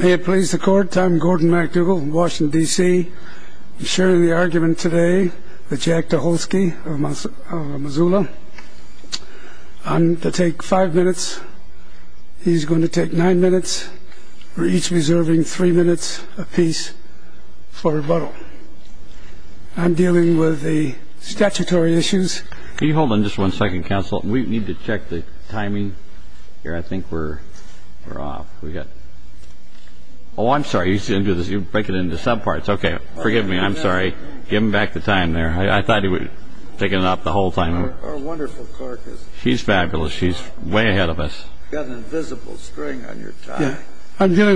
May it please the Court, I'm Gordon MacDougall from Washington, D.C. I'm sharing the argument today with Jack Daholsky of Missoula. And to take five minutes, he's going to take nine minutes. We're each reserving three minutes apiece for rebuttal. I'm dealing with the statutory issues. I'm dealing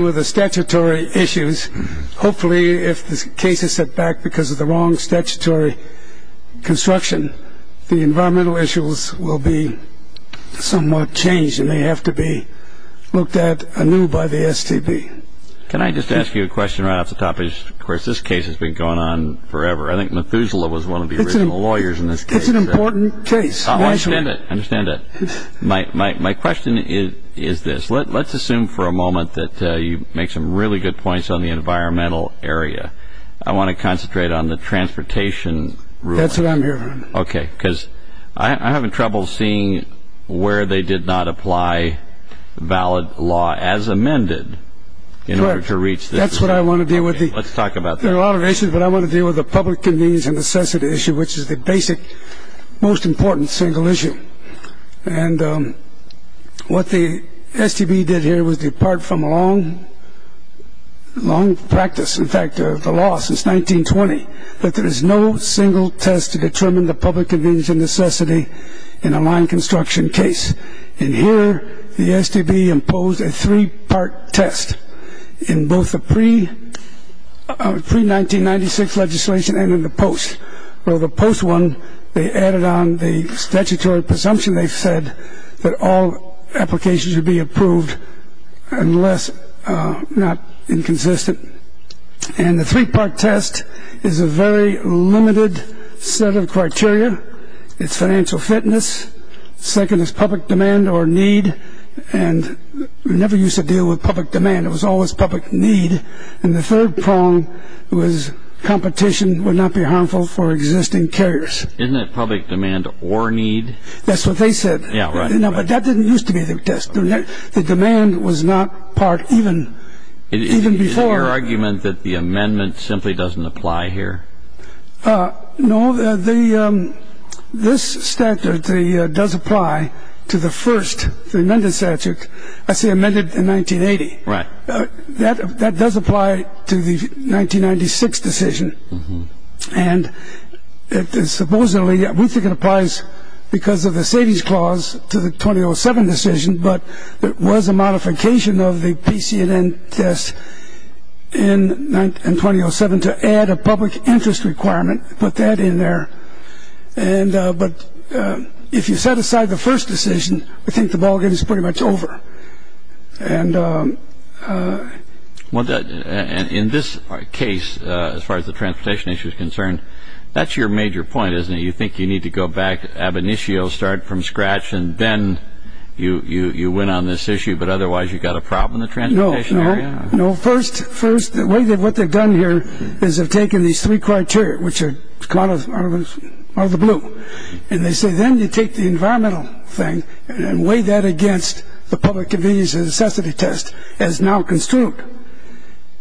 with the statutory issues. Hopefully, if this case is set back because of the wrong the environmental issues will be somewhat changed and they have to be looked at anew by the STB. Can I just ask you a question right off the top? Of course, this case has been going on forever. I think Missoula was one of the original lawyers in this case. It's an important case. I understand it. I understand it. My question is this. Let's assume for a moment that you make some really good points on the environmental area. I want to concentrate on the transportation ruling. That's what I'm hearing. Okay. Because I'm having trouble seeing where they did not apply valid law as amended in order to reach this. That's what I want to deal with. Let's talk about that. There are a lot of issues, but I want to deal with the public convenience and necessity issue, which is the basic, most important single issue. And what the STB did here was depart from a long practice, in fact, the law since 1920, that there is no single test to determine the public convenience and necessity in a line construction case. And here, the STB imposed a three-part test in both the pre-1996 legislation and in the post. Well, the post one, they added on the statutory presumption, they said, that all applications should be approved unless not inconsistent. And the three-part test is a very limited set of criteria. It's financial fitness. Second is public demand or need. And we never used to deal with public demand. It was always public need. And the third prong was competition would not be harmful for existing carriers. Isn't that public demand or need? That's what they said. Yeah, right. No, but that didn't used to be the test. The demand was not part even before. Is it your argument that the amendment simply doesn't apply here? No, this statute, it does apply to the first, the amended statute. I say amended in 1980. That does apply to the 1996 decision. And supposedly, we think it applies because of the savings clause to the 2007 decision. But it was a modification of the PCNN test in 2007 to add a public interest requirement, put that in there. And but if you set aside the first decision, I think the ballgame is pretty much over. And in this case, as far as the transportation issue is concerned, that's your major point, isn't it? You think you need to go back ab initio, start from scratch, and then you went on this issue. But otherwise, you've got a problem in the transportation area. No, no, no. First, the way that what they've done here is they've taken these three criteria, which are out of the blue. And they say, then you take the environmental thing and weigh that against the public convenience and necessity test as now construed.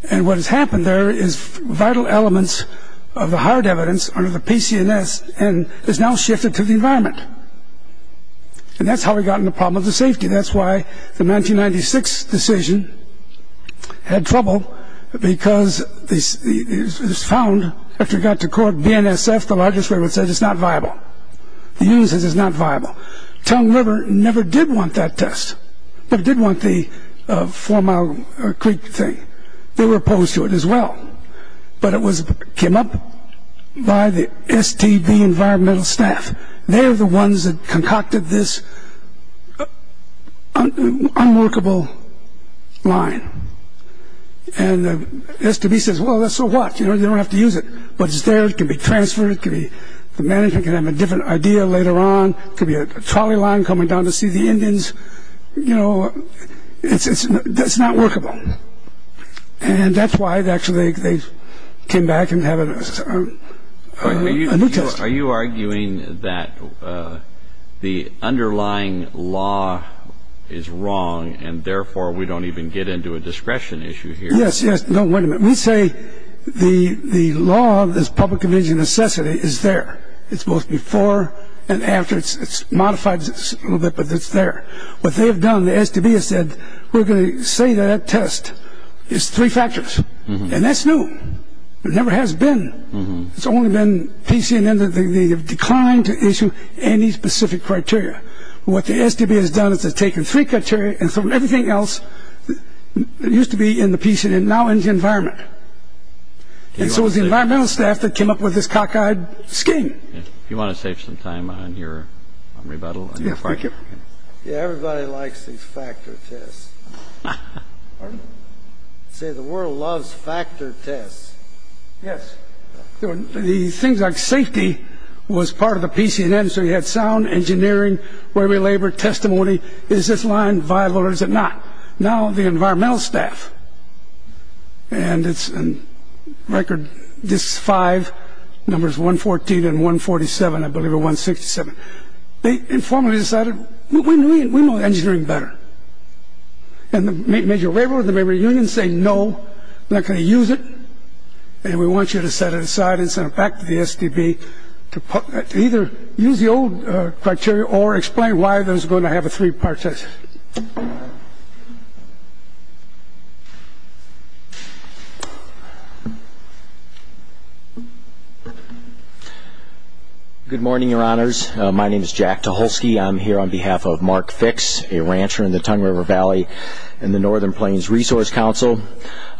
And what has happened there is vital elements of the hard evidence under the PCNN is now shifted to the environment. And that's how we got in the problem of the safety. That's why the 1996 decision had trouble because it was found, after it got to court, BNSF, the largest way, would say it's not viable. The unit says it's not viable. Tongue River never did want that test. They did want the Four Mile Creek thing. They were opposed to it as well. But it came up by the STB environmental staff. They're the ones that concocted this unworkable line. And the STB says, well, that's so what? You don't have to use it. But it's there. It can be transferred. The management can have a different idea later on. It could be a trolley line coming down to see the Indians. You know, it's not workable. And that's why, actually, they came back and have a new test. Are you arguing that the underlying law is wrong and therefore we don't even get into a discretion issue here? Yes, yes. No, wait a minute. We say the law of this public convenience and necessity is there. It's both before and after. It's modified a little bit, but it's there. What they've done, the STB has said, we're going to say that test is three factors. And that's new. It never has been. It's only been PCNN that they have declined to issue any specific criteria. What the STB has done is they've taken three criteria and thrown everything else that used to be in the PCNN, now in the environment. And so it's the environmental staff that came up with this cockeyed scheme. You want to save some time on your rebuttal? Yeah, everybody likes these factor tests. Say the world loves factor tests. Yes. The things like safety was part of the PCNN. So you had sound engineering, where we labored, testimony. Is this line viable or is it not? Now the environmental staff, and it's a record. This five numbers 114 and 147, I believe, are 167. They informally decided we know engineering better. And the major labor unions say no, we're not going to use it. And we want you to set it aside and send it back to the STB to either use the old criteria or explain why there's going to have a three-part test. Good morning, your honors. My name is Jack Tucholsky. I'm here on behalf of Mark Fix, a rancher in the Tongue River Valley and the Northern Plains Resource Council.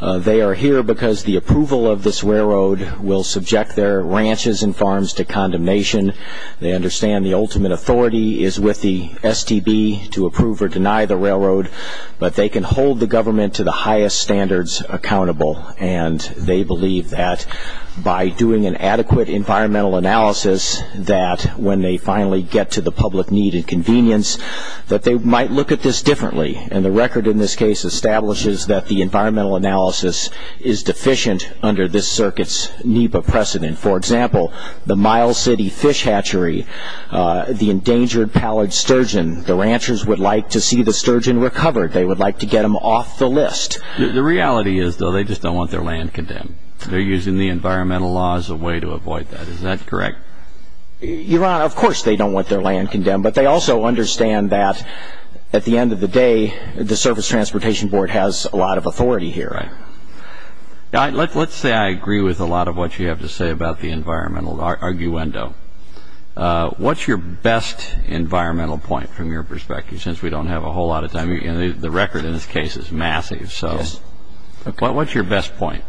They are here because the approval of this railroad will subject their ranches and farms to condemnation. They understand the ultimate authority is with the STB to approve or deny the railroad, but they can hold the government to the highest standards accountable. And they believe that by doing an adequate environmental analysis, that when they finally get to the public need and convenience, that they might look at this differently. And the record in this case establishes that the environmental analysis is deficient under this circuit's NEPA precedent. For example, the Mile City fish hatchery, the endangered pallid sturgeon, the ranchers would like to see the sturgeon recovered. They would like to get them off the list. The reality is, though, they just don't want their land condemned. They're using the environmental law as a way to avoid that. Is that correct? Your honor, of course they don't want their land condemned. But they also understand that at the end of the day, the Surface Transportation Board has a lot of authority here. Let's say I agree with a lot of what you have to say about the environmental arguendo. What's your best environmental point, from your perspective, since we don't have a whole lot of time? The record in this case is massive. What's your best point?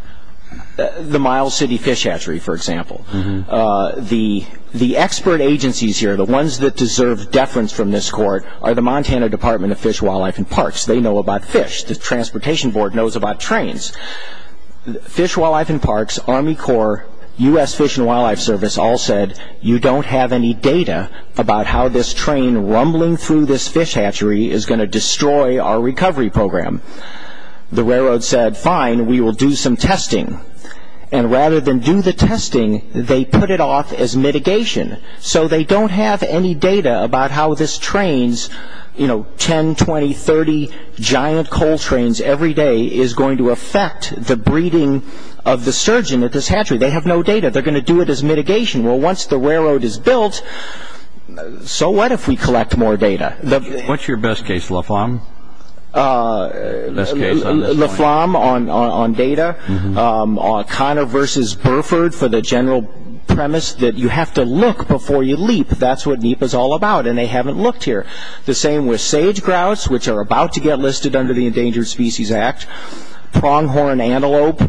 The Mile City fish hatchery, for example. The expert agencies here, the ones that deserve deference from this court, are the Montana Department of Fish, Wildlife, and Parks. They know about fish. The Transportation Board knows about trains. Fish, Wildlife, and Parks, Army Corps, U.S. Fish and Wildlife Service all said, you don't have any data about how this train rumbling through this fish hatchery is going to destroy our recovery program. The railroad said, fine, we will do some testing. And rather than do the testing, they put it off as mitigation. So they don't have any data about how this train, 10, 20, 30 giant coal trains every day, is going to affect the breeding of the sturgeon at this hatchery. They have no data. They're going to do it as mitigation. Well, once the railroad is built, so what if we collect more data? What's your best case, Laflam? Laflam, on data. Conner v. Burford, for the general premise that you have to look before you leap. That's what NEPA is all about. And they haven't looked here. The same with sage grouse, which are about to get listed under the Endangered Species Act. Pronghorn antelope.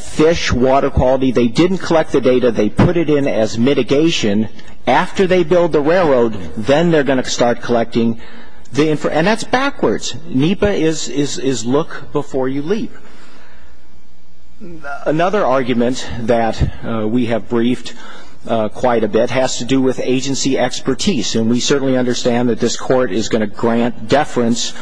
Fish, water quality. They didn't collect the data. They put it in as mitigation. After they build the railroad, then they're going to start collecting. And that's backwards. NEPA is look before you leap. Another argument that we have briefed quite a bit has to do with agency expertise. And we certainly understand that this court is going to grant deference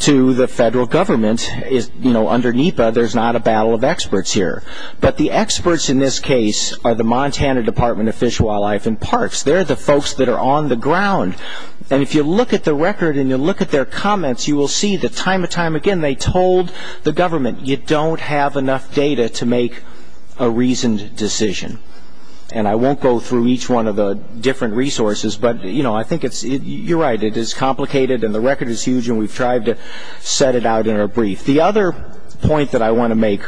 to the federal government. Under NEPA, there's not a battle of experts here. But the experts in this case are the folks that are on the ground. And if you look at the record and you look at their comments, you will see that time and time again, they told the government, you don't have enough data to make a reasoned decision. And I won't go through each one of the different resources, but I think you're right. It is complicated and the record is huge and we've tried to set it out in our brief. The other point that I want to make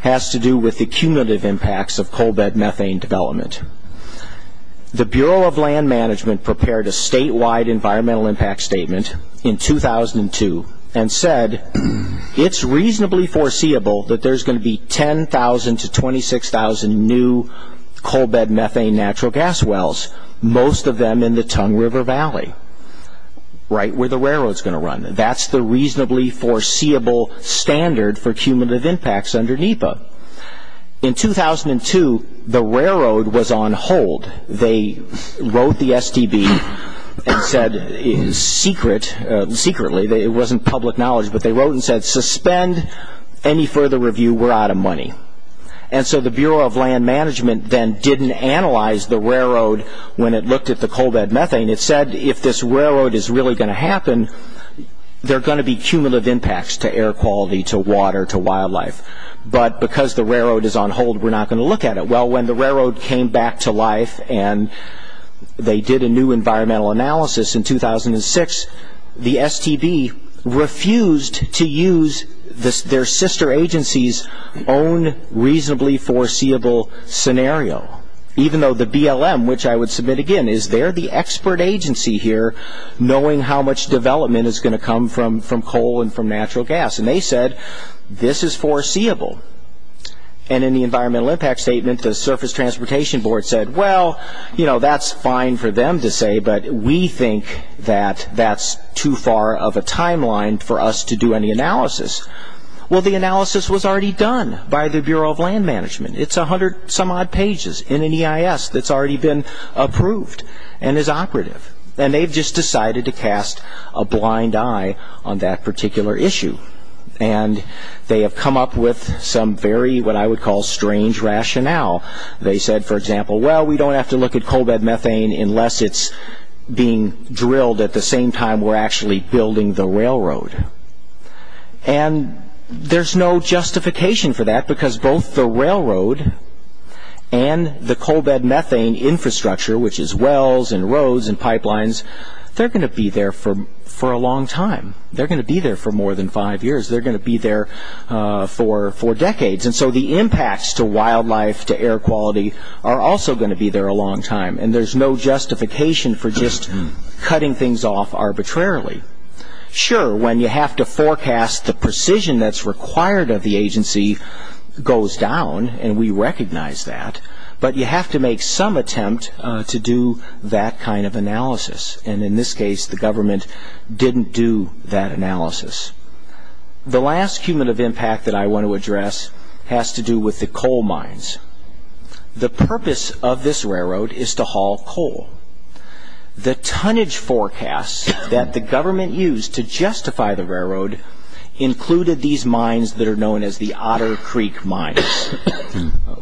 has to do with the cumulative impacts of coal bed methane development. The Bureau of Land Management prepared a statewide environmental impact statement in 2002 and said, it's reasonably foreseeable that there's going to be 10,000 to 26,000 new coal bed methane natural gas wells, most of them in the Tongue River Valley, right where the railroad's going to run. That's the reasonably foreseeable standard for cumulative impacts under NEPA. In 2002, the railroad was on hold. They wrote the STB and said secretly, it wasn't public knowledge, but they wrote and said, suspend any further review, we're out of money. And so the Bureau of Land Management then didn't analyze the railroad when it looked at the coal bed methane. It said if this railroad is really going to happen, there are going to be cumulative impacts to air quality, to water, to wildlife, but because the railroad is on hold, we're not going to look at it. Well, when the railroad came back to life and they did a new environmental analysis in 2006, the STB refused to use their sister agency's own reasonably foreseeable scenario. Even though the BLM, which I would submit again, is there the expert agency here knowing how much development is going to come from coal and from natural gas. And they said, this is foreseeable. And in the environmental impact statement, the Surface Transportation Board said, well, that's fine for them to say, but we think that that's too far of a timeline for us to do any analysis. Well, the analysis was already done by the Bureau of Land Management. It's a hundred some odd pages in an EIS that's already been approved and is operative. And they've just decided to cast a blind eye on that particular issue. And they have come up with some very, what I would call, strange rationale. They said, for example, well, we don't have to look at coal bed methane unless it's being drilled at the same time we're actually building the railroad. And there's no justification for that because both the railroad and the coal bed methane infrastructure, which is wells and roads and pipelines, they're going to be there for a long time. They're going to be there for more than five years. They're going to be there for decades. And so the impacts to wildlife, to air quality, are also going to be there a long time. And there's no justification for just cutting things off arbitrarily. Sure, when you have to forecast the precision that's required of the agency goes down, and we recognize that. But you have to make some attempt to do that kind of analysis. And in this case, the government didn't do that analysis. The last human of impact that I want to address has to do with the coal mines. The purpose of this railroad is to haul coal. The tonnage forecasts that the government used to justify the railroad included these mines that are known as the Otter Creek Mines,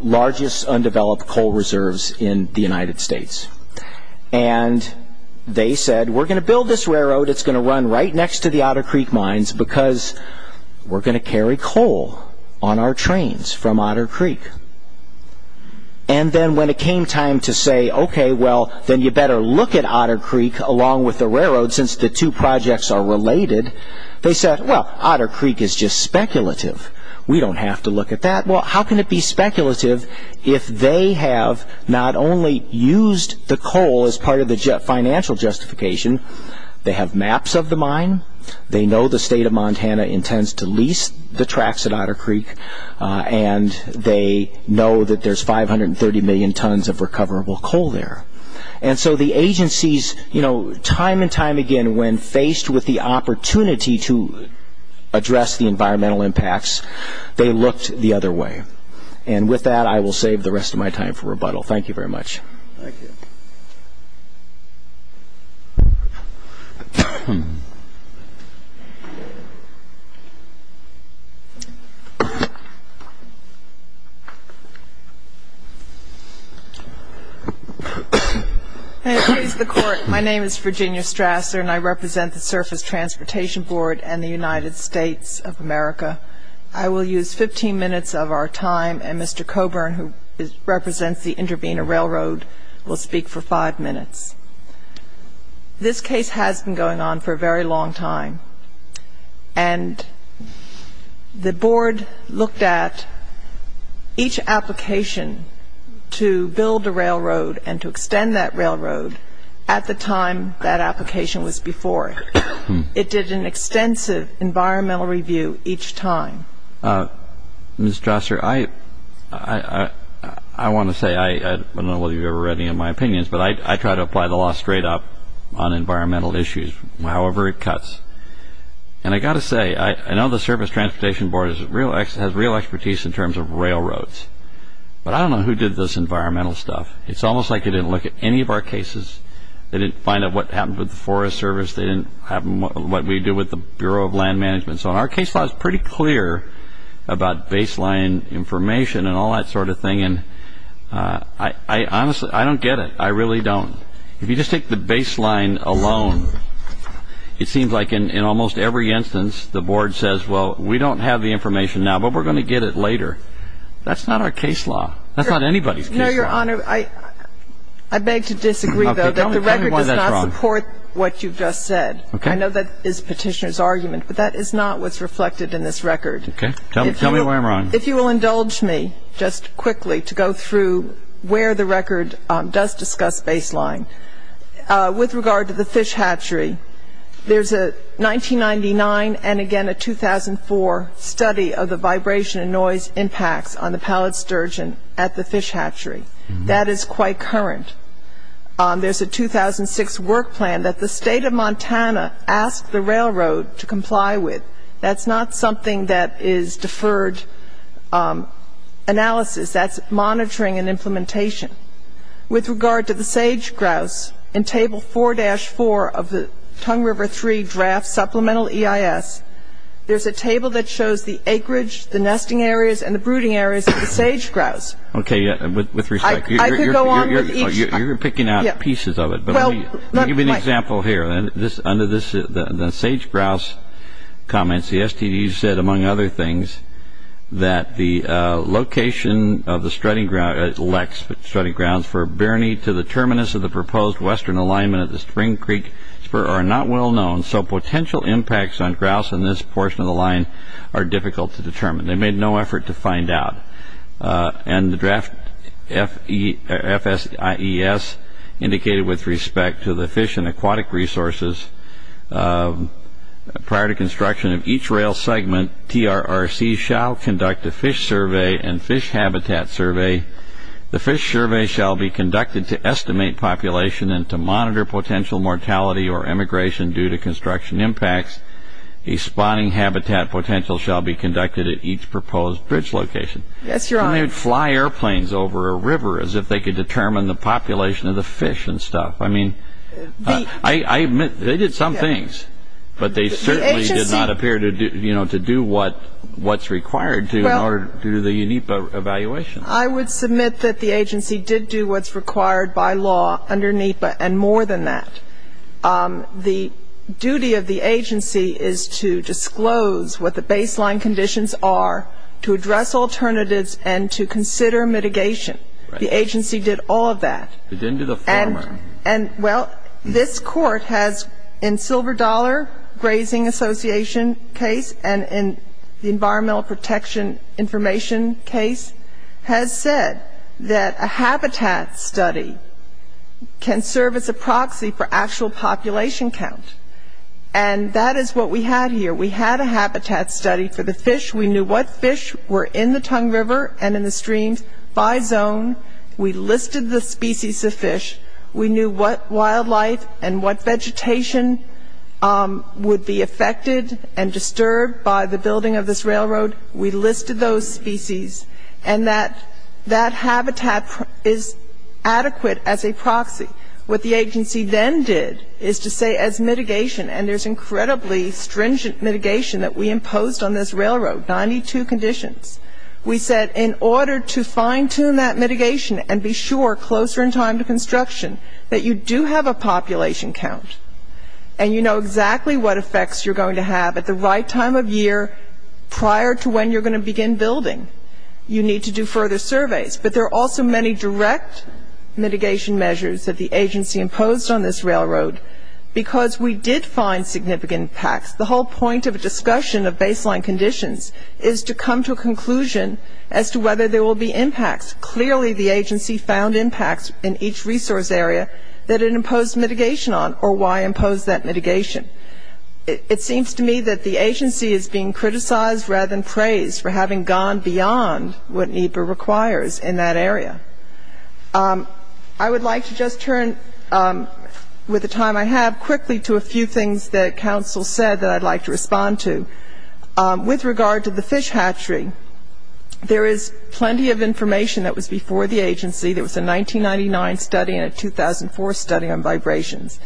largest undeveloped coal reserves in the United States. And they said, we're going to build this railroad. It's going to run right next to the Otter Creek Mines because we're going to carry coal on our trains from Otter Creek. And then when it came time to say, okay, well, then you better look at Otter Creek along with the railroad since the two projects are related. They said, well, Otter Creek is just speculative. We don't have to look at that. Well, how can it be speculative if they have not only used the coal as part of the financial justification, they have maps of the mine, they know the state of Montana intends to lease the tracks at Otter Creek, and they know that there's 530 million tons of recoverable coal there. And so the agencies, you know, time and time again, when faced with the opportunity to address the environmental impacts, they looked the other way. And with that, I will save the rest of my time for rebuttal. Thank you very much. And please, the Court, my name is Virginia Strasser, and I represent the Surface Transportation Board and the United States of America. I will use 15 minutes of our time, and Mr. Coburn, who represents the Intervena Railroad, will speak for five minutes. This case has been going on for a very long time. And the Board looked at each application to build a railroad and to extend that railroad at the time that application was before it. It did an extensive environmental review each time. Ms. Strasser, I want to say, I don't know whether you've ever read any of my opinions, but I try to apply the law straight up on environmental issues, however it cuts. And I've got to say, I know the Surface Transportation Board has real expertise in terms of railroads, but I don't know who did this environmental stuff. It's almost like they didn't look at any of our cases. They didn't find out what happened with the Forest Service. They didn't have what we do with the Bureau of Land Management. So our case law is pretty clear about baseline information and all that sort of thing. And I honestly, I don't get it. I really don't. If you just take the baseline alone, it seems like in almost every instance, the Board says, well, we don't have the information now, but we're going to get it later. That's not our case law. That's not anybody's case law. No, Your Honor. I beg to disagree, though, that the record does not support what you've just said. I know that is Petitioner's argument, but that is not what's reflected in this record. Okay. Tell me where I'm wrong. If you will indulge me just quickly to go through where the record does discuss baseline. With regard to the fish hatchery, there's a 1999 and again a 2004 study of the vibration and noise impacts on the pallet sturgeon at the fish hatchery. That is quite current. There's a 2006 work plan that the State of Montana asked the railroad to comply with. That's not something that is deferred analysis. That's monitoring and implementation. With regard to the sage grouse, in Table 4-4 of the Tongue River III Draft Supplemental EIS, there's a table that shows the acreage, the nesting areas, and the brooding areas of the sage grouse. Okay. With respect, you're picking out pieces of it, but let me give you an example here. Under the sage grouse comments, the STD said, among other things, that the location of the study grounds for Birney to the terminus of the proposed western alignment of the Spring Creek Spur are not well known, so potential impacts on grouse in this portion of the line are difficult to determine. They made no effort to find out. And the draft FSIES indicated with respect to the fish and aquatic resources, prior to construction of each rail segment, TRRC shall conduct a fish survey and fish habitat survey. The fish survey shall be conducted to estimate population and to monitor potential mortality or emigration due to construction impacts. A spawning habitat potential shall be conducted at each proposed bridge location. Yes, Your Honor. They may fly airplanes over a river as if they could determine the population of the fish and stuff. I mean, I admit they did some things, but they certainly did not appear to do, you know, to do what's required to in order to do the unique evaluation. I would submit that the agency did do what's required by law under NEPA and more than that. The duty of the agency is to disclose what the baseline conditions are, to address alternatives and to consider mitigation. The agency did all of that. They didn't do the former. And well, this Court has, in Silver Dollar Grazing Association case and in the Environmental Protection Information case, has said that a habitat study can serve as a proxy for actual population count. And that is what we had here. We had a habitat study for the fish. We knew what fish were in the Tongue River and in the streams by zone. We listed the species of fish. We knew what wildlife and what vegetation would be affected and disturbed by the building of this railroad. We listed those species. And that that habitat is adequate as a proxy. What the agency then did is to say as mitigation, and there's incredibly stringent mitigation that we imposed on this railroad, 92 conditions. We said in order to fine tune that mitigation and be sure closer in time to construction that you do have a population count and you know exactly what effects you're going to have at the right time of year prior to when you're going to begin building, you need to do further surveys. But there are also many direct mitigation measures that the agency imposed on this railroad because we did find significant impacts. The whole point of a discussion of baseline conditions is to come to a conclusion as to whether there will be impacts. Clearly the agency found impacts in each resource area that it imposed mitigation on or why imposed that mitigation. It seems to me that the agency is being criticized rather than praised for having gone beyond what NEPA requires in that area. I would like to just turn with the time I have quickly to a few things that counsel said that I'd like to respond to. With regard to the fish hatchery, there is plenty of information that was before the agency. There was a 1999 study and a 2004 study on vibrations.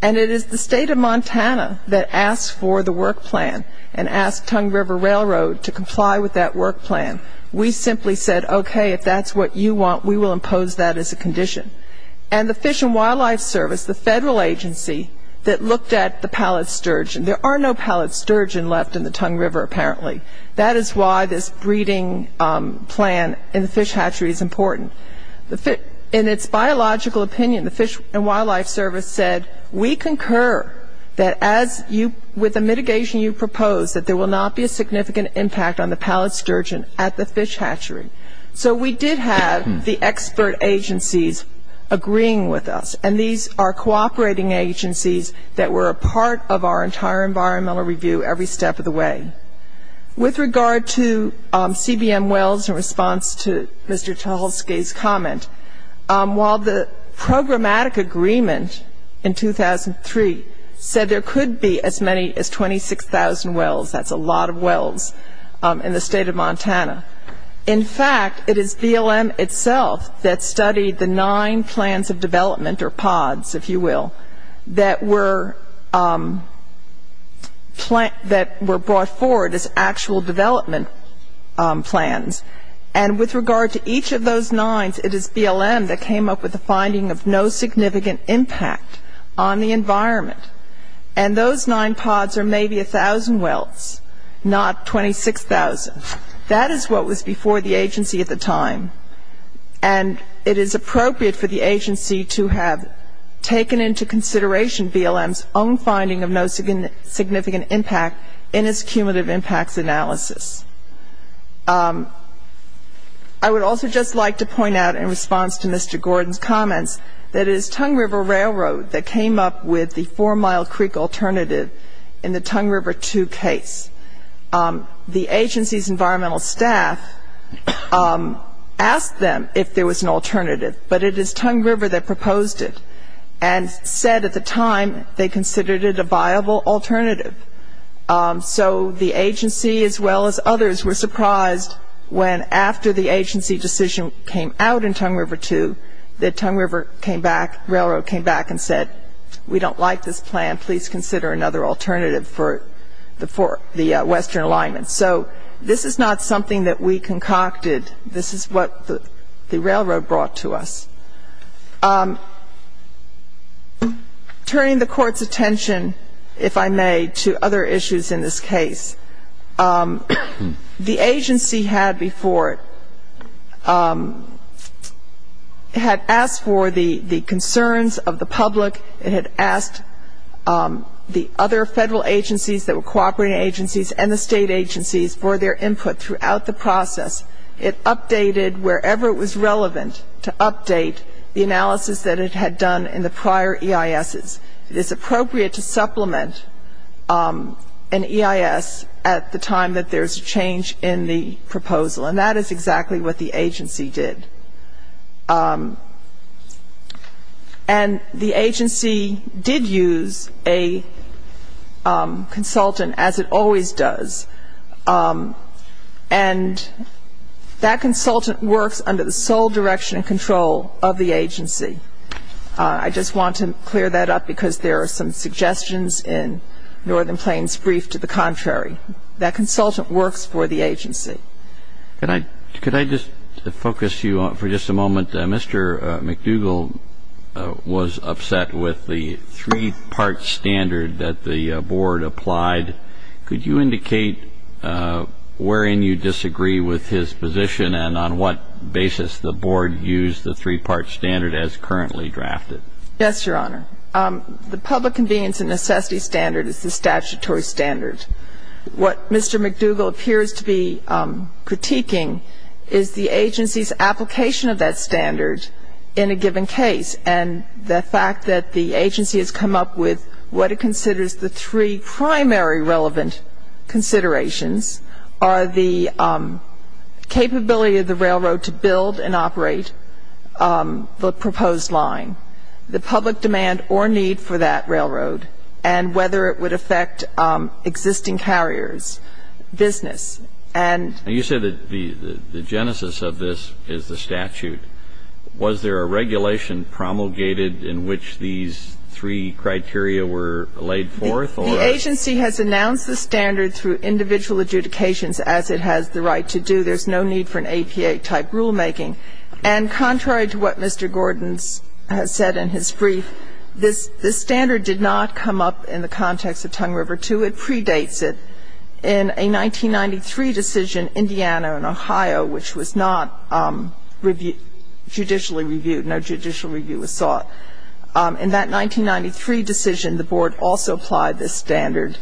And it is the state of Montana that asked for the work plan and asked Tongue River Railroad to comply with that work plan. We simply said, okay, if that's what you want, we will impose that as a condition. And the Fish and Wildlife Service, the federal agency that looked at the pallid sturgeon, there are no pallid sturgeon left in the Tongue River apparently. That is why this breeding plan in the fish hatchery is important. In its biological opinion, the Fish and Wildlife Service said, we concur that as you, with the mitigation you propose, that there will not be a significant impact on the pallid sturgeon at the fish hatchery. So we did have the expert agencies agreeing with us. And these are cooperating agencies that were a part of our entire environmental review every step of the way. With regard to CBM wells, in response to Mr. Tucholsky's comment, while the programmatic agreement in 2003 said there could be as many as 26,000 wells, that's a lot of wells, in the state of Montana, in fact, it is BLM itself that studied the nine plans of development or pods, if you will, that were brought forward as actual development plans. And with regard to each of those nines, it is BLM that came up with a finding of no significant impact on the environment. And those nine pods are maybe 1,000 wells, not 26,000. That is what was before the agency at the time. And it is appropriate for the agency to have taken into consideration BLM's own finding of no significant impact in its cumulative impacts analysis. I would also just like to point out, in response to Mr. Gordon's comments, that it is Tongue River Railroad that came up with the four-mile creek alternative in the Tongue River II case. The agency's environmental staff asked them if there was an alternative, but it is Tongue River that proposed it and said at the time they considered it a viable alternative. So the agency, as well as others, were surprised when, after the agency decision came out in Tongue River II, that Tongue River came back, railroad came back and said, we don't like this plan, please consider another alternative for the western alignment. So this is not something that we concocted. This is what the railroad brought to us. Turning the Court's attention, if I may, to other issues in this case, the agency had before it had asked for the concerns of the public. It had asked for the concerns of the other federal agencies that were cooperating agencies and the state agencies for their input throughout the process. It updated wherever it was relevant to update the analysis that it had done in the prior EISs. It is appropriate to supplement an EIS at the time that there is a change in the proposal, and that is exactly what the agency did. And the agency did use a consultant, as it always does, and that consultant works under the sole direction and control of the agency. I just want to clear that up because there are some suggestions in Northern Plains' brief to the contrary. That consultant works for the agency. Could I just focus you for just a moment? Mr. McDougall was upset with the three-part standard that the Board applied. Could you indicate wherein you disagree with his position and on what basis the Board used the three-part standard as currently drafted? Yes, Your Honor. The public convenience and necessity standard is the statutory standard. What Mr. McDougall appears to be critiquing is the agency's application of that standard in a given case, and the fact that the agency has come up with what it considers the three primary relevant considerations are the capability of the railroad to build and operate the proposed line, the public demand or need for that railroad, and whether it would affect existing carriers, business, and you said that the genesis of this is the statute. Was there a regulation promulgated in which these three criteria were laid forth or the agency has announced the standard through individual adjudications as it has the right to do. There's no need for an APA-type rulemaking. And contrary to what Mr. Gordon has said in his brief, this standard did not come up in the context of Tongue River II. It predates it. In a 1993 decision, Indiana and Ohio, which was not judicially reviewed, no judicial review was sought, in that 1993 decision, the Board also applied this standard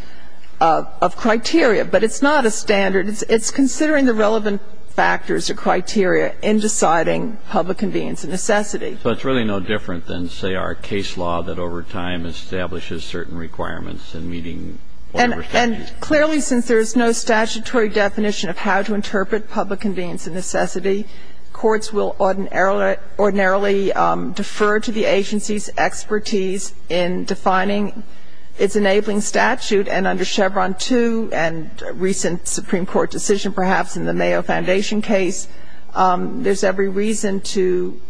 of criteria. But it's not a standard. It's considering the relevant factors or criteria in deciding public convenience and necessity. So it's really no different than, say, our case law that over time establishes certain requirements in meeting whatever statute. And clearly, since there's no statutory definition of how to interpret public convenience and necessity, courts will ordinarily defer to the agency's expertise in defining its requirements. And in fact, in the case of the Mayo Foundation, there's every reason to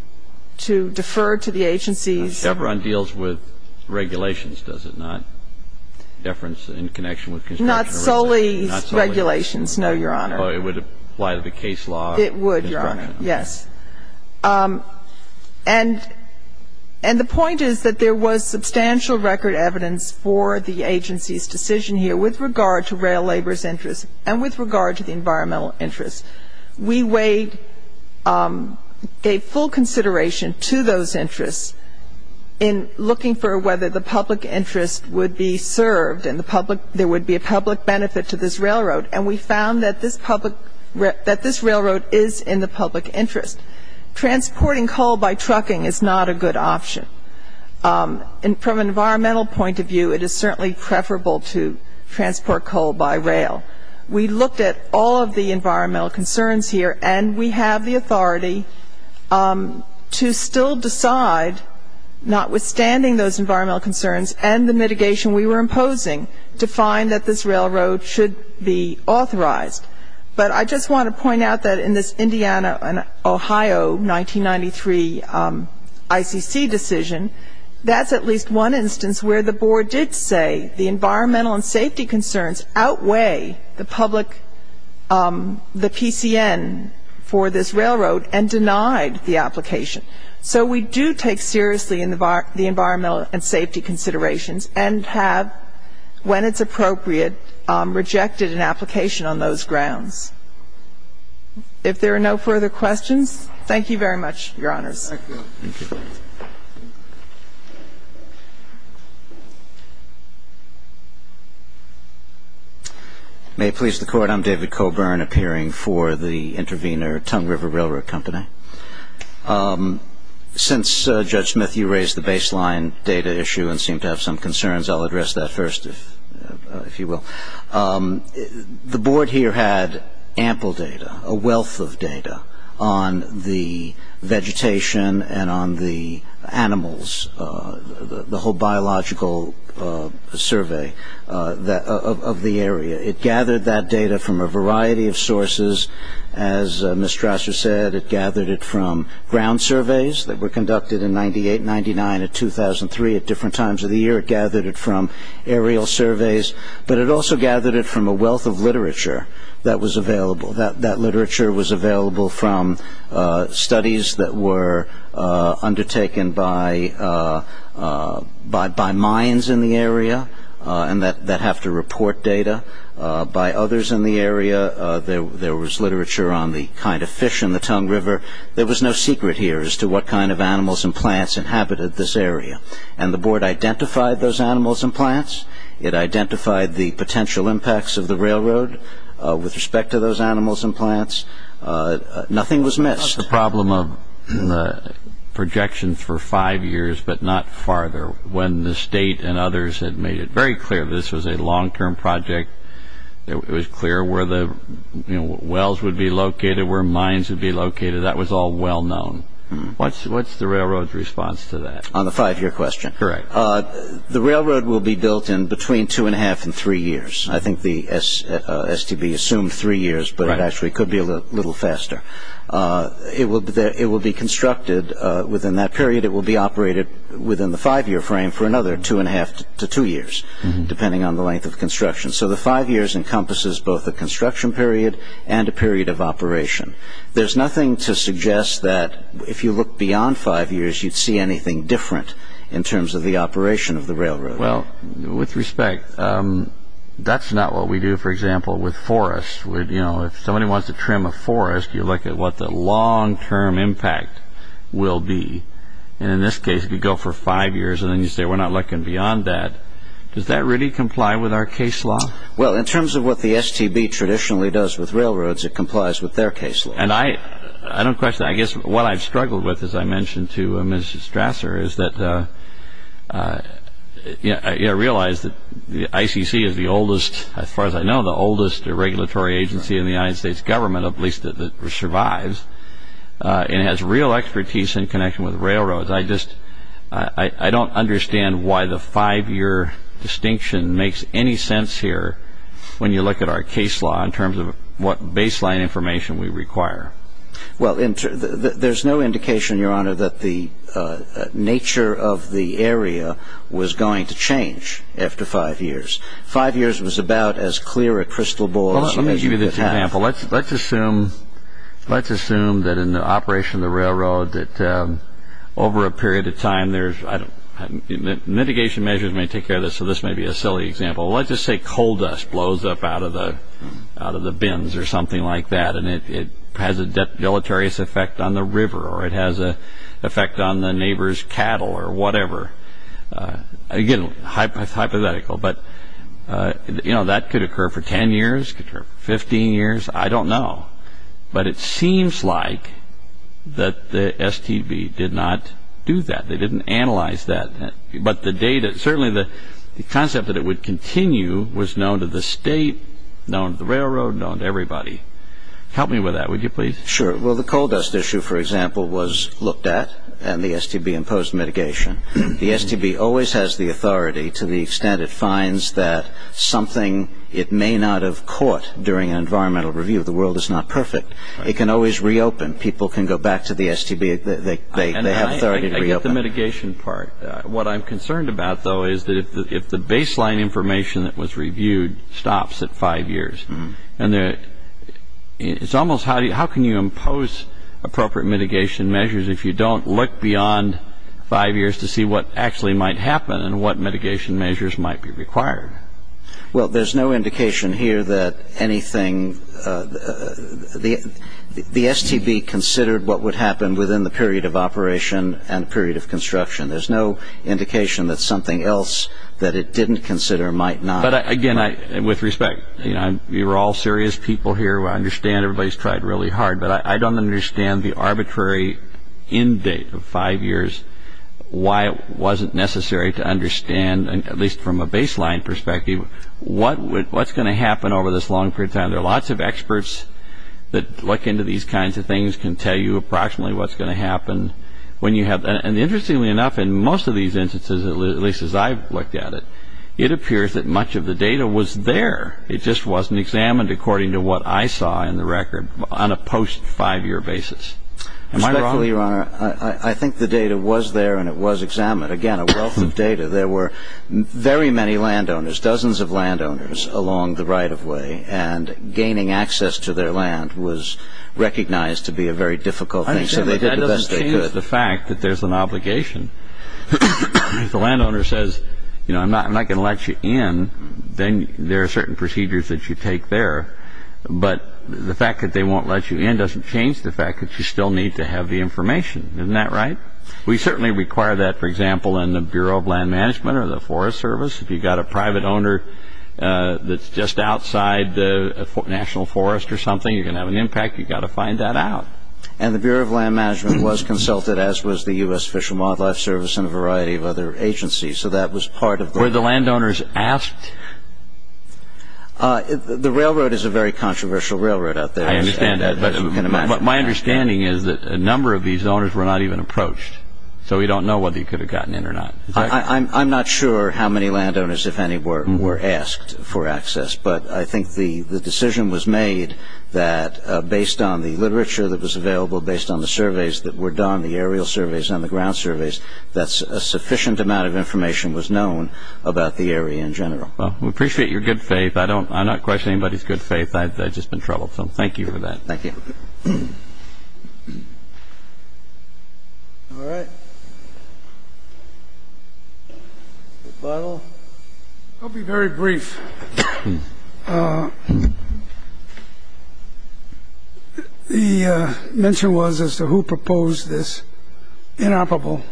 defer to the agency's expertise. So the Devron deals with regulations, does it not? Deference in connection with construction rights? Not solely regulations, no, Your Honor. It would apply to the case law? It would, Your Honor. Construction rights. Yes. And the point is that there was substantial record evidence for the agency's decision here with regard to rail labor's interest and with regard to the environmental interest. We weighed ñ gave full consideration to those interests in looking for whether the public interest would be served and the public ñ there would be a public benefit to this railroad. And we found that this public ñ that this railroad is in the public interest. Transporting coal by trucking is not a good option. And from an environmental point of view, it is certainly preferable to transport coal by rail. We looked at all of the environmental concerns here, and we have the authority to still decide, notwithstanding those environmental concerns and the mitigation we were imposing, to find that this railroad should be authorized. But I just want to point out that in this Indiana and Ohio 1993 ICC decision, that's at least one instance where the Board did say the environmental and safety concerns outweigh the public ñ the PCN for this railroad and denied the application. So we do take seriously the environmental and safety considerations and have, when it's appropriate, rejected an application on those grounds. If there are no further questions, thank you very much, Your Honors. Thank you. May it please the Court, I'm David Coburn, appearing for the intervener, Tongue River Railroad Company. Since, Judge Smith, you raised the baseline data issue and seemed to have some concerns, I'll address that first, if you will. The Board here had ample data, a wealth of data, on the vegetation and on the animals, the whole biological survey of the area. It gathered that data from a variety of sources. As Ms. Strasser said, it gathered it from ground surveys that were conducted in 98, 99, and 2003 at different times of the year. It gathered it from aerial surveys, but it also gathered it from a wealth of literature that was available. That literature was available from studies that were undertaken by mines in the area that have to report data, by others in the area. There was literature on the kind of fish in the Tongue River. There was no secret here as to what kind of animals and plants inhabited this area. And the Board identified those animals and plants. It identified the potential impacts of the railroad with respect to those animals and plants. Nothing was missed. It was not the problem of projections for five years, but not farther. When the State and others had made it very clear this was a long-term project, it was clear where the railroad was going. What's the railroad's response to that? On the five-year question? Correct. The railroad will be built in between two and a half and three years. I think the STB assumed three years, but it actually could be a little faster. It will be constructed within that period. It will be operated within the five-year frame for another two and a half to two years, depending on the length of construction. So the five years encompasses both a construction period and a period of operation. There's nothing to suggest that if you look beyond five years, you'd see anything different in terms of the operation of the railroad. Well, with respect, that's not what we do, for example, with forests. If somebody wants to trim a forest, you look at what the long-term impact will be. And in this case, if you go for five years and then you say we're not looking beyond that, does that really comply with our case law? Well, in terms of what the STB traditionally does with railroads, it complies with their case law. And I don't question that. I guess what I've struggled with, as I mentioned to Ms. Strasser, is that I realize that the ICC is the oldest, as far as I know, the oldest regulatory agency in the United States government, at least that survives, and has real expertise in connection with railroads. I just, I don't understand why the five-year distinction makes any sense here when you look at our case law in terms of what baseline information we require. Well, there's no indication, Your Honor, that the nature of the area was going to change after five years. Five years was about as clear a crystal ball as you mentioned at the time. Let's assume that in the operation of the railroad, that over a period of time, mitigation measures may take care of this, so this may be a silly example. Let's just say coal dust blows up out of the bins or something like that, and it has a debilitarious effect on the river, or it has an effect on the neighbor's cattle, or whatever. Again, it's hypothetical. But, you know, that could occur for 10 years, could occur for 15 years, I don't know. But it seems like that the STB did not do that. They didn't analyze that. But the data, certainly the concept that it would continue was known to the state, known to the railroad, known to everybody. Help me with that, would you please? Sure. Well, the coal dust issue, for example, was looked at, and the STB imposed mitigation. The STB always has the authority to the extent it finds that something it may not have caught during an environmental review, the world is not perfect, it can always reopen. People can go back to the STB, they have authority to reopen. And I get the mitigation part. What I'm concerned about, though, is that if the baseline information that was reviewed stops at five years, and it's almost how can you impose appropriate mitigation measures if you don't look beyond five years to see what actually might happen and what mitigation measures might be required? Well, there's no indication here that anything, the STB considered what would happen within the period of operation and the period of construction. There's no indication that something else that it didn't consider might not. But again, with respect, you know, you're all serious people here. I understand everybody's tried really hard, but I don't understand the arbitrary end date of five years, why it wasn't necessary to understand, at least from a baseline perspective, what's going to happen over this long period of time. There are lots of experts that look into these kinds of things, can tell you approximately what's going to happen when you have. And interestingly enough, in most of these instances, at least as I've looked at it, it appears that much of the data was there. It just wasn't examined according to what I saw in the record on a post-five-year basis. Am I wrong? I'm sorry, Your Honor. I think the data was there and it was examined. Again, a wealth of data. There were very many landowners, dozens of landowners along the right-of-way, and gaining access to their land was recognized to be a very difficult thing. I understand, but that doesn't change the fact that there's an obligation. If the landowner says, you know, I'm not going to let you in, then there are certain procedures that you take there. But the fact that they won't let you in doesn't change the fact that you still need to have the information. Isn't that right? We certainly require that, for example, in the Bureau of Land Management or the Forest Service. If you've got a private owner that's just outside the National Forest or something, you're going to have an impact. You've got to find that out. And the Bureau of Land Management was consulted, as was the U.S. Fish and Wildlife Service and a variety of other agencies. So that was part of the... Were the landowners asked? The railroad is a very controversial railroad out there. I understand that. But my understanding is that a number of these owners were not even approached. So we don't know whether you could have gotten in or not. I'm not sure how many landowners, if any, were asked for access. But I think the decision was made that based on the literature that was available, based on the surveys that were done, the aerial surveys and the ground surveys, that a sufficient amount of information was known about the area in general. Well, we appreciate your good faith. I don't... I'm not questioning anybody's good faith. I've just been troubled. So thank you for that. Thank you. All right. Rebuttal? I'll be very brief. The mention was as to who proposed this inoperable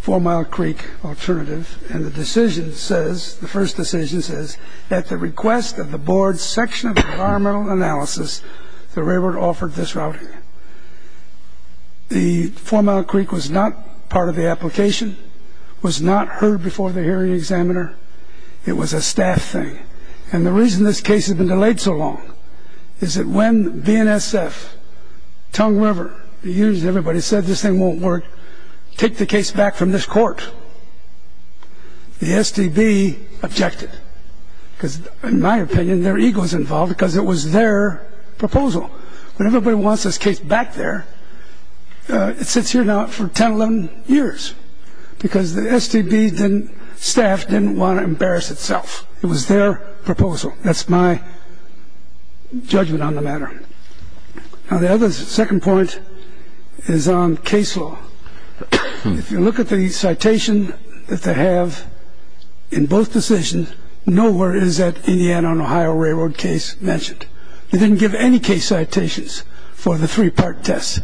four-mile creek alternative. And the decision says, the first decision says, at the request of the board's section of environmental analysis, the railroad offered this route here. The four-mile creek was not part of the application, was not heard before the hearing examiner. It was a staff thing. And the reason this case has been delayed so long is that when VNSF, Tongue River, the STB objected, because in my opinion, their ego is involved, because it was their proposal. When everybody wants this case back there, it sits here now for 10, 11 years, because the STB didn't... staff didn't want to embarrass itself. It was their proposal. That's my judgment on the matter. Now, the other second point is on case law. If you look at the citation that they have, in both decisions, nowhere is that Indiana and Ohio railroad case mentioned. They didn't give any case citations for the three-part test.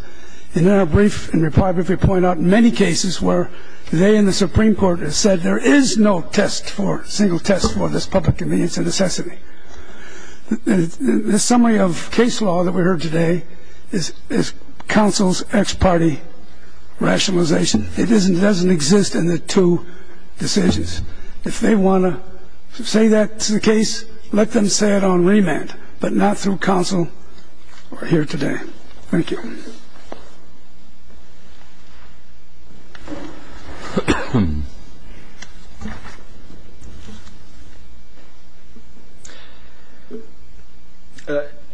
In their brief, in their part, they point out many cases where they and the Supreme Court have said there is no test for... single test for this public convenience and necessity. The summary of case law that we heard today is counsel's ex-party rationalization. It doesn't exist in the two decisions. If they want to say that's the case, let them say it on remand, but not through counsel or here today. Thank you.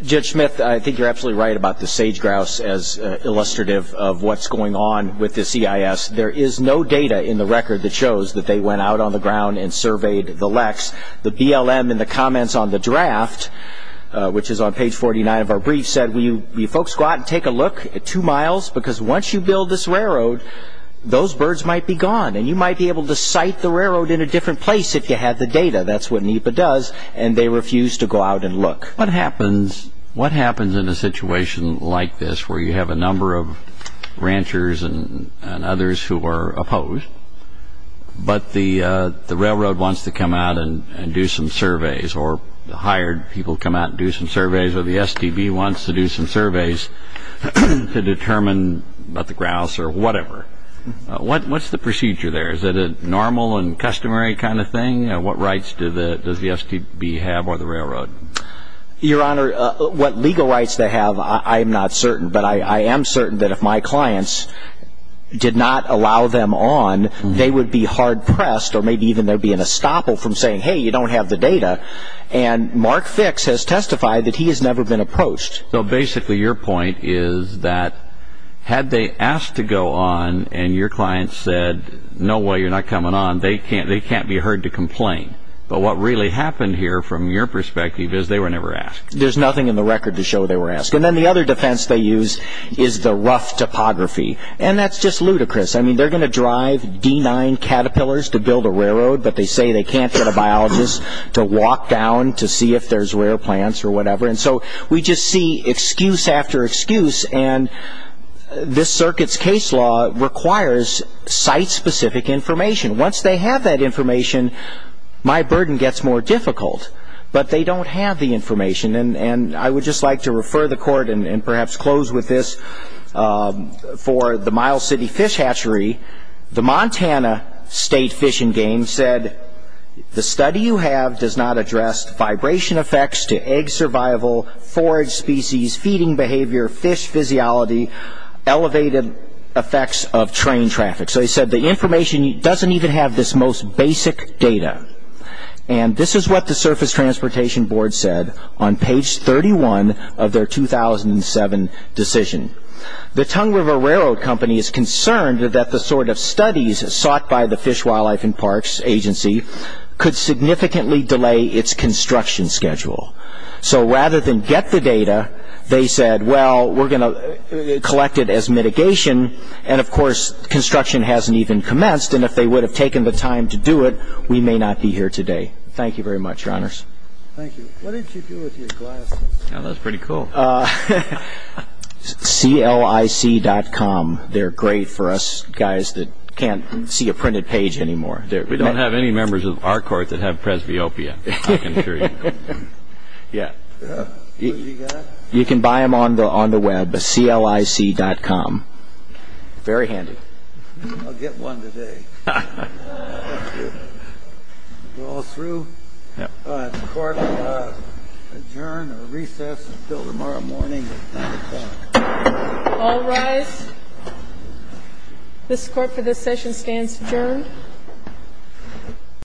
Judge Smith, I think you're absolutely right about the sage-grouse as illustrative of what's going on with the CIS. There is no data in the record that shows that they went out on the ground and surveyed the leks. The BLM, in the comments on the draft, which is on page 49 of our brief, said, will you folks go out and take a look at two miles? Because once you build this railroad, those birds might be gone, and you might be able to site the railroad in a different place if you had the data. That's what NEPA does, and they refuse to go out and look. What happens in a situation like this where you have a number of ranchers and others who are opposed, but the railroad wants to come out and do some surveys, or the hired people come out and do some surveys, or the STB wants to do some surveys to determine about the grouse or whatever? What's the procedure there? Is it a normal and customary kind of thing? What rights does the STB have or the railroad? Your Honor, what legal rights they have, I am not certain. But I am certain that if my clients did not allow them on, they would be hard-pressed or maybe even there would be an estoppel from saying, hey, you don't have the data. And Mark Fix has testified that he has never been approached. So basically your point is that had they asked to go on and your client said, no way, you're going to complain. But what really happened here from your perspective is they were never asked. There's nothing in the record to show they were asked. And then the other defense they use is the rough topography. And that's just ludicrous. They're going to drive D9 Caterpillars to build a railroad, but they say they can't get a biologist to walk down to see if there's rare plants or whatever. And so we just see excuse after excuse, and this circuit's case law requires site-specific information. Once they have that information, my burden gets more difficult. But they don't have the information. And I would just like to refer the court and perhaps close with this for the Miles City Fish Hatchery. The Montana State Fish and Game said, the study you have does not address vibration effects to egg survival, forage species, feeding behavior, fish physiology, elevated effects of train traffic. So they said the information doesn't even have this most basic data. And this is what the Surface Transportation Board said on page 31 of their 2007 decision. The Tongue River Railroad Company is concerned that the sort of studies sought by the Fish, Wildlife, and Parks Agency could significantly delay its construction schedule. So rather than get the data, they said, well, we're going to collect it as mitigation. And of course, construction hasn't even commenced. And if they would have taken the time to do it, we may not be here today. Thank you very much, Your Honors. Thank you. What did you do with your glasses? That was pretty cool. CLIC.com. They're great for us guys that can't see a printed page anymore. We don't have any members of our court that have presbyopia. I can assure you. Yeah. You can buy them on the web at CLIC.com. Very handy. I'll get one today. Thank you. We're all through? Yeah. The court will adjourn or recess until tomorrow morning at 9 o'clock. All rise. This Court for this session stands adjourned.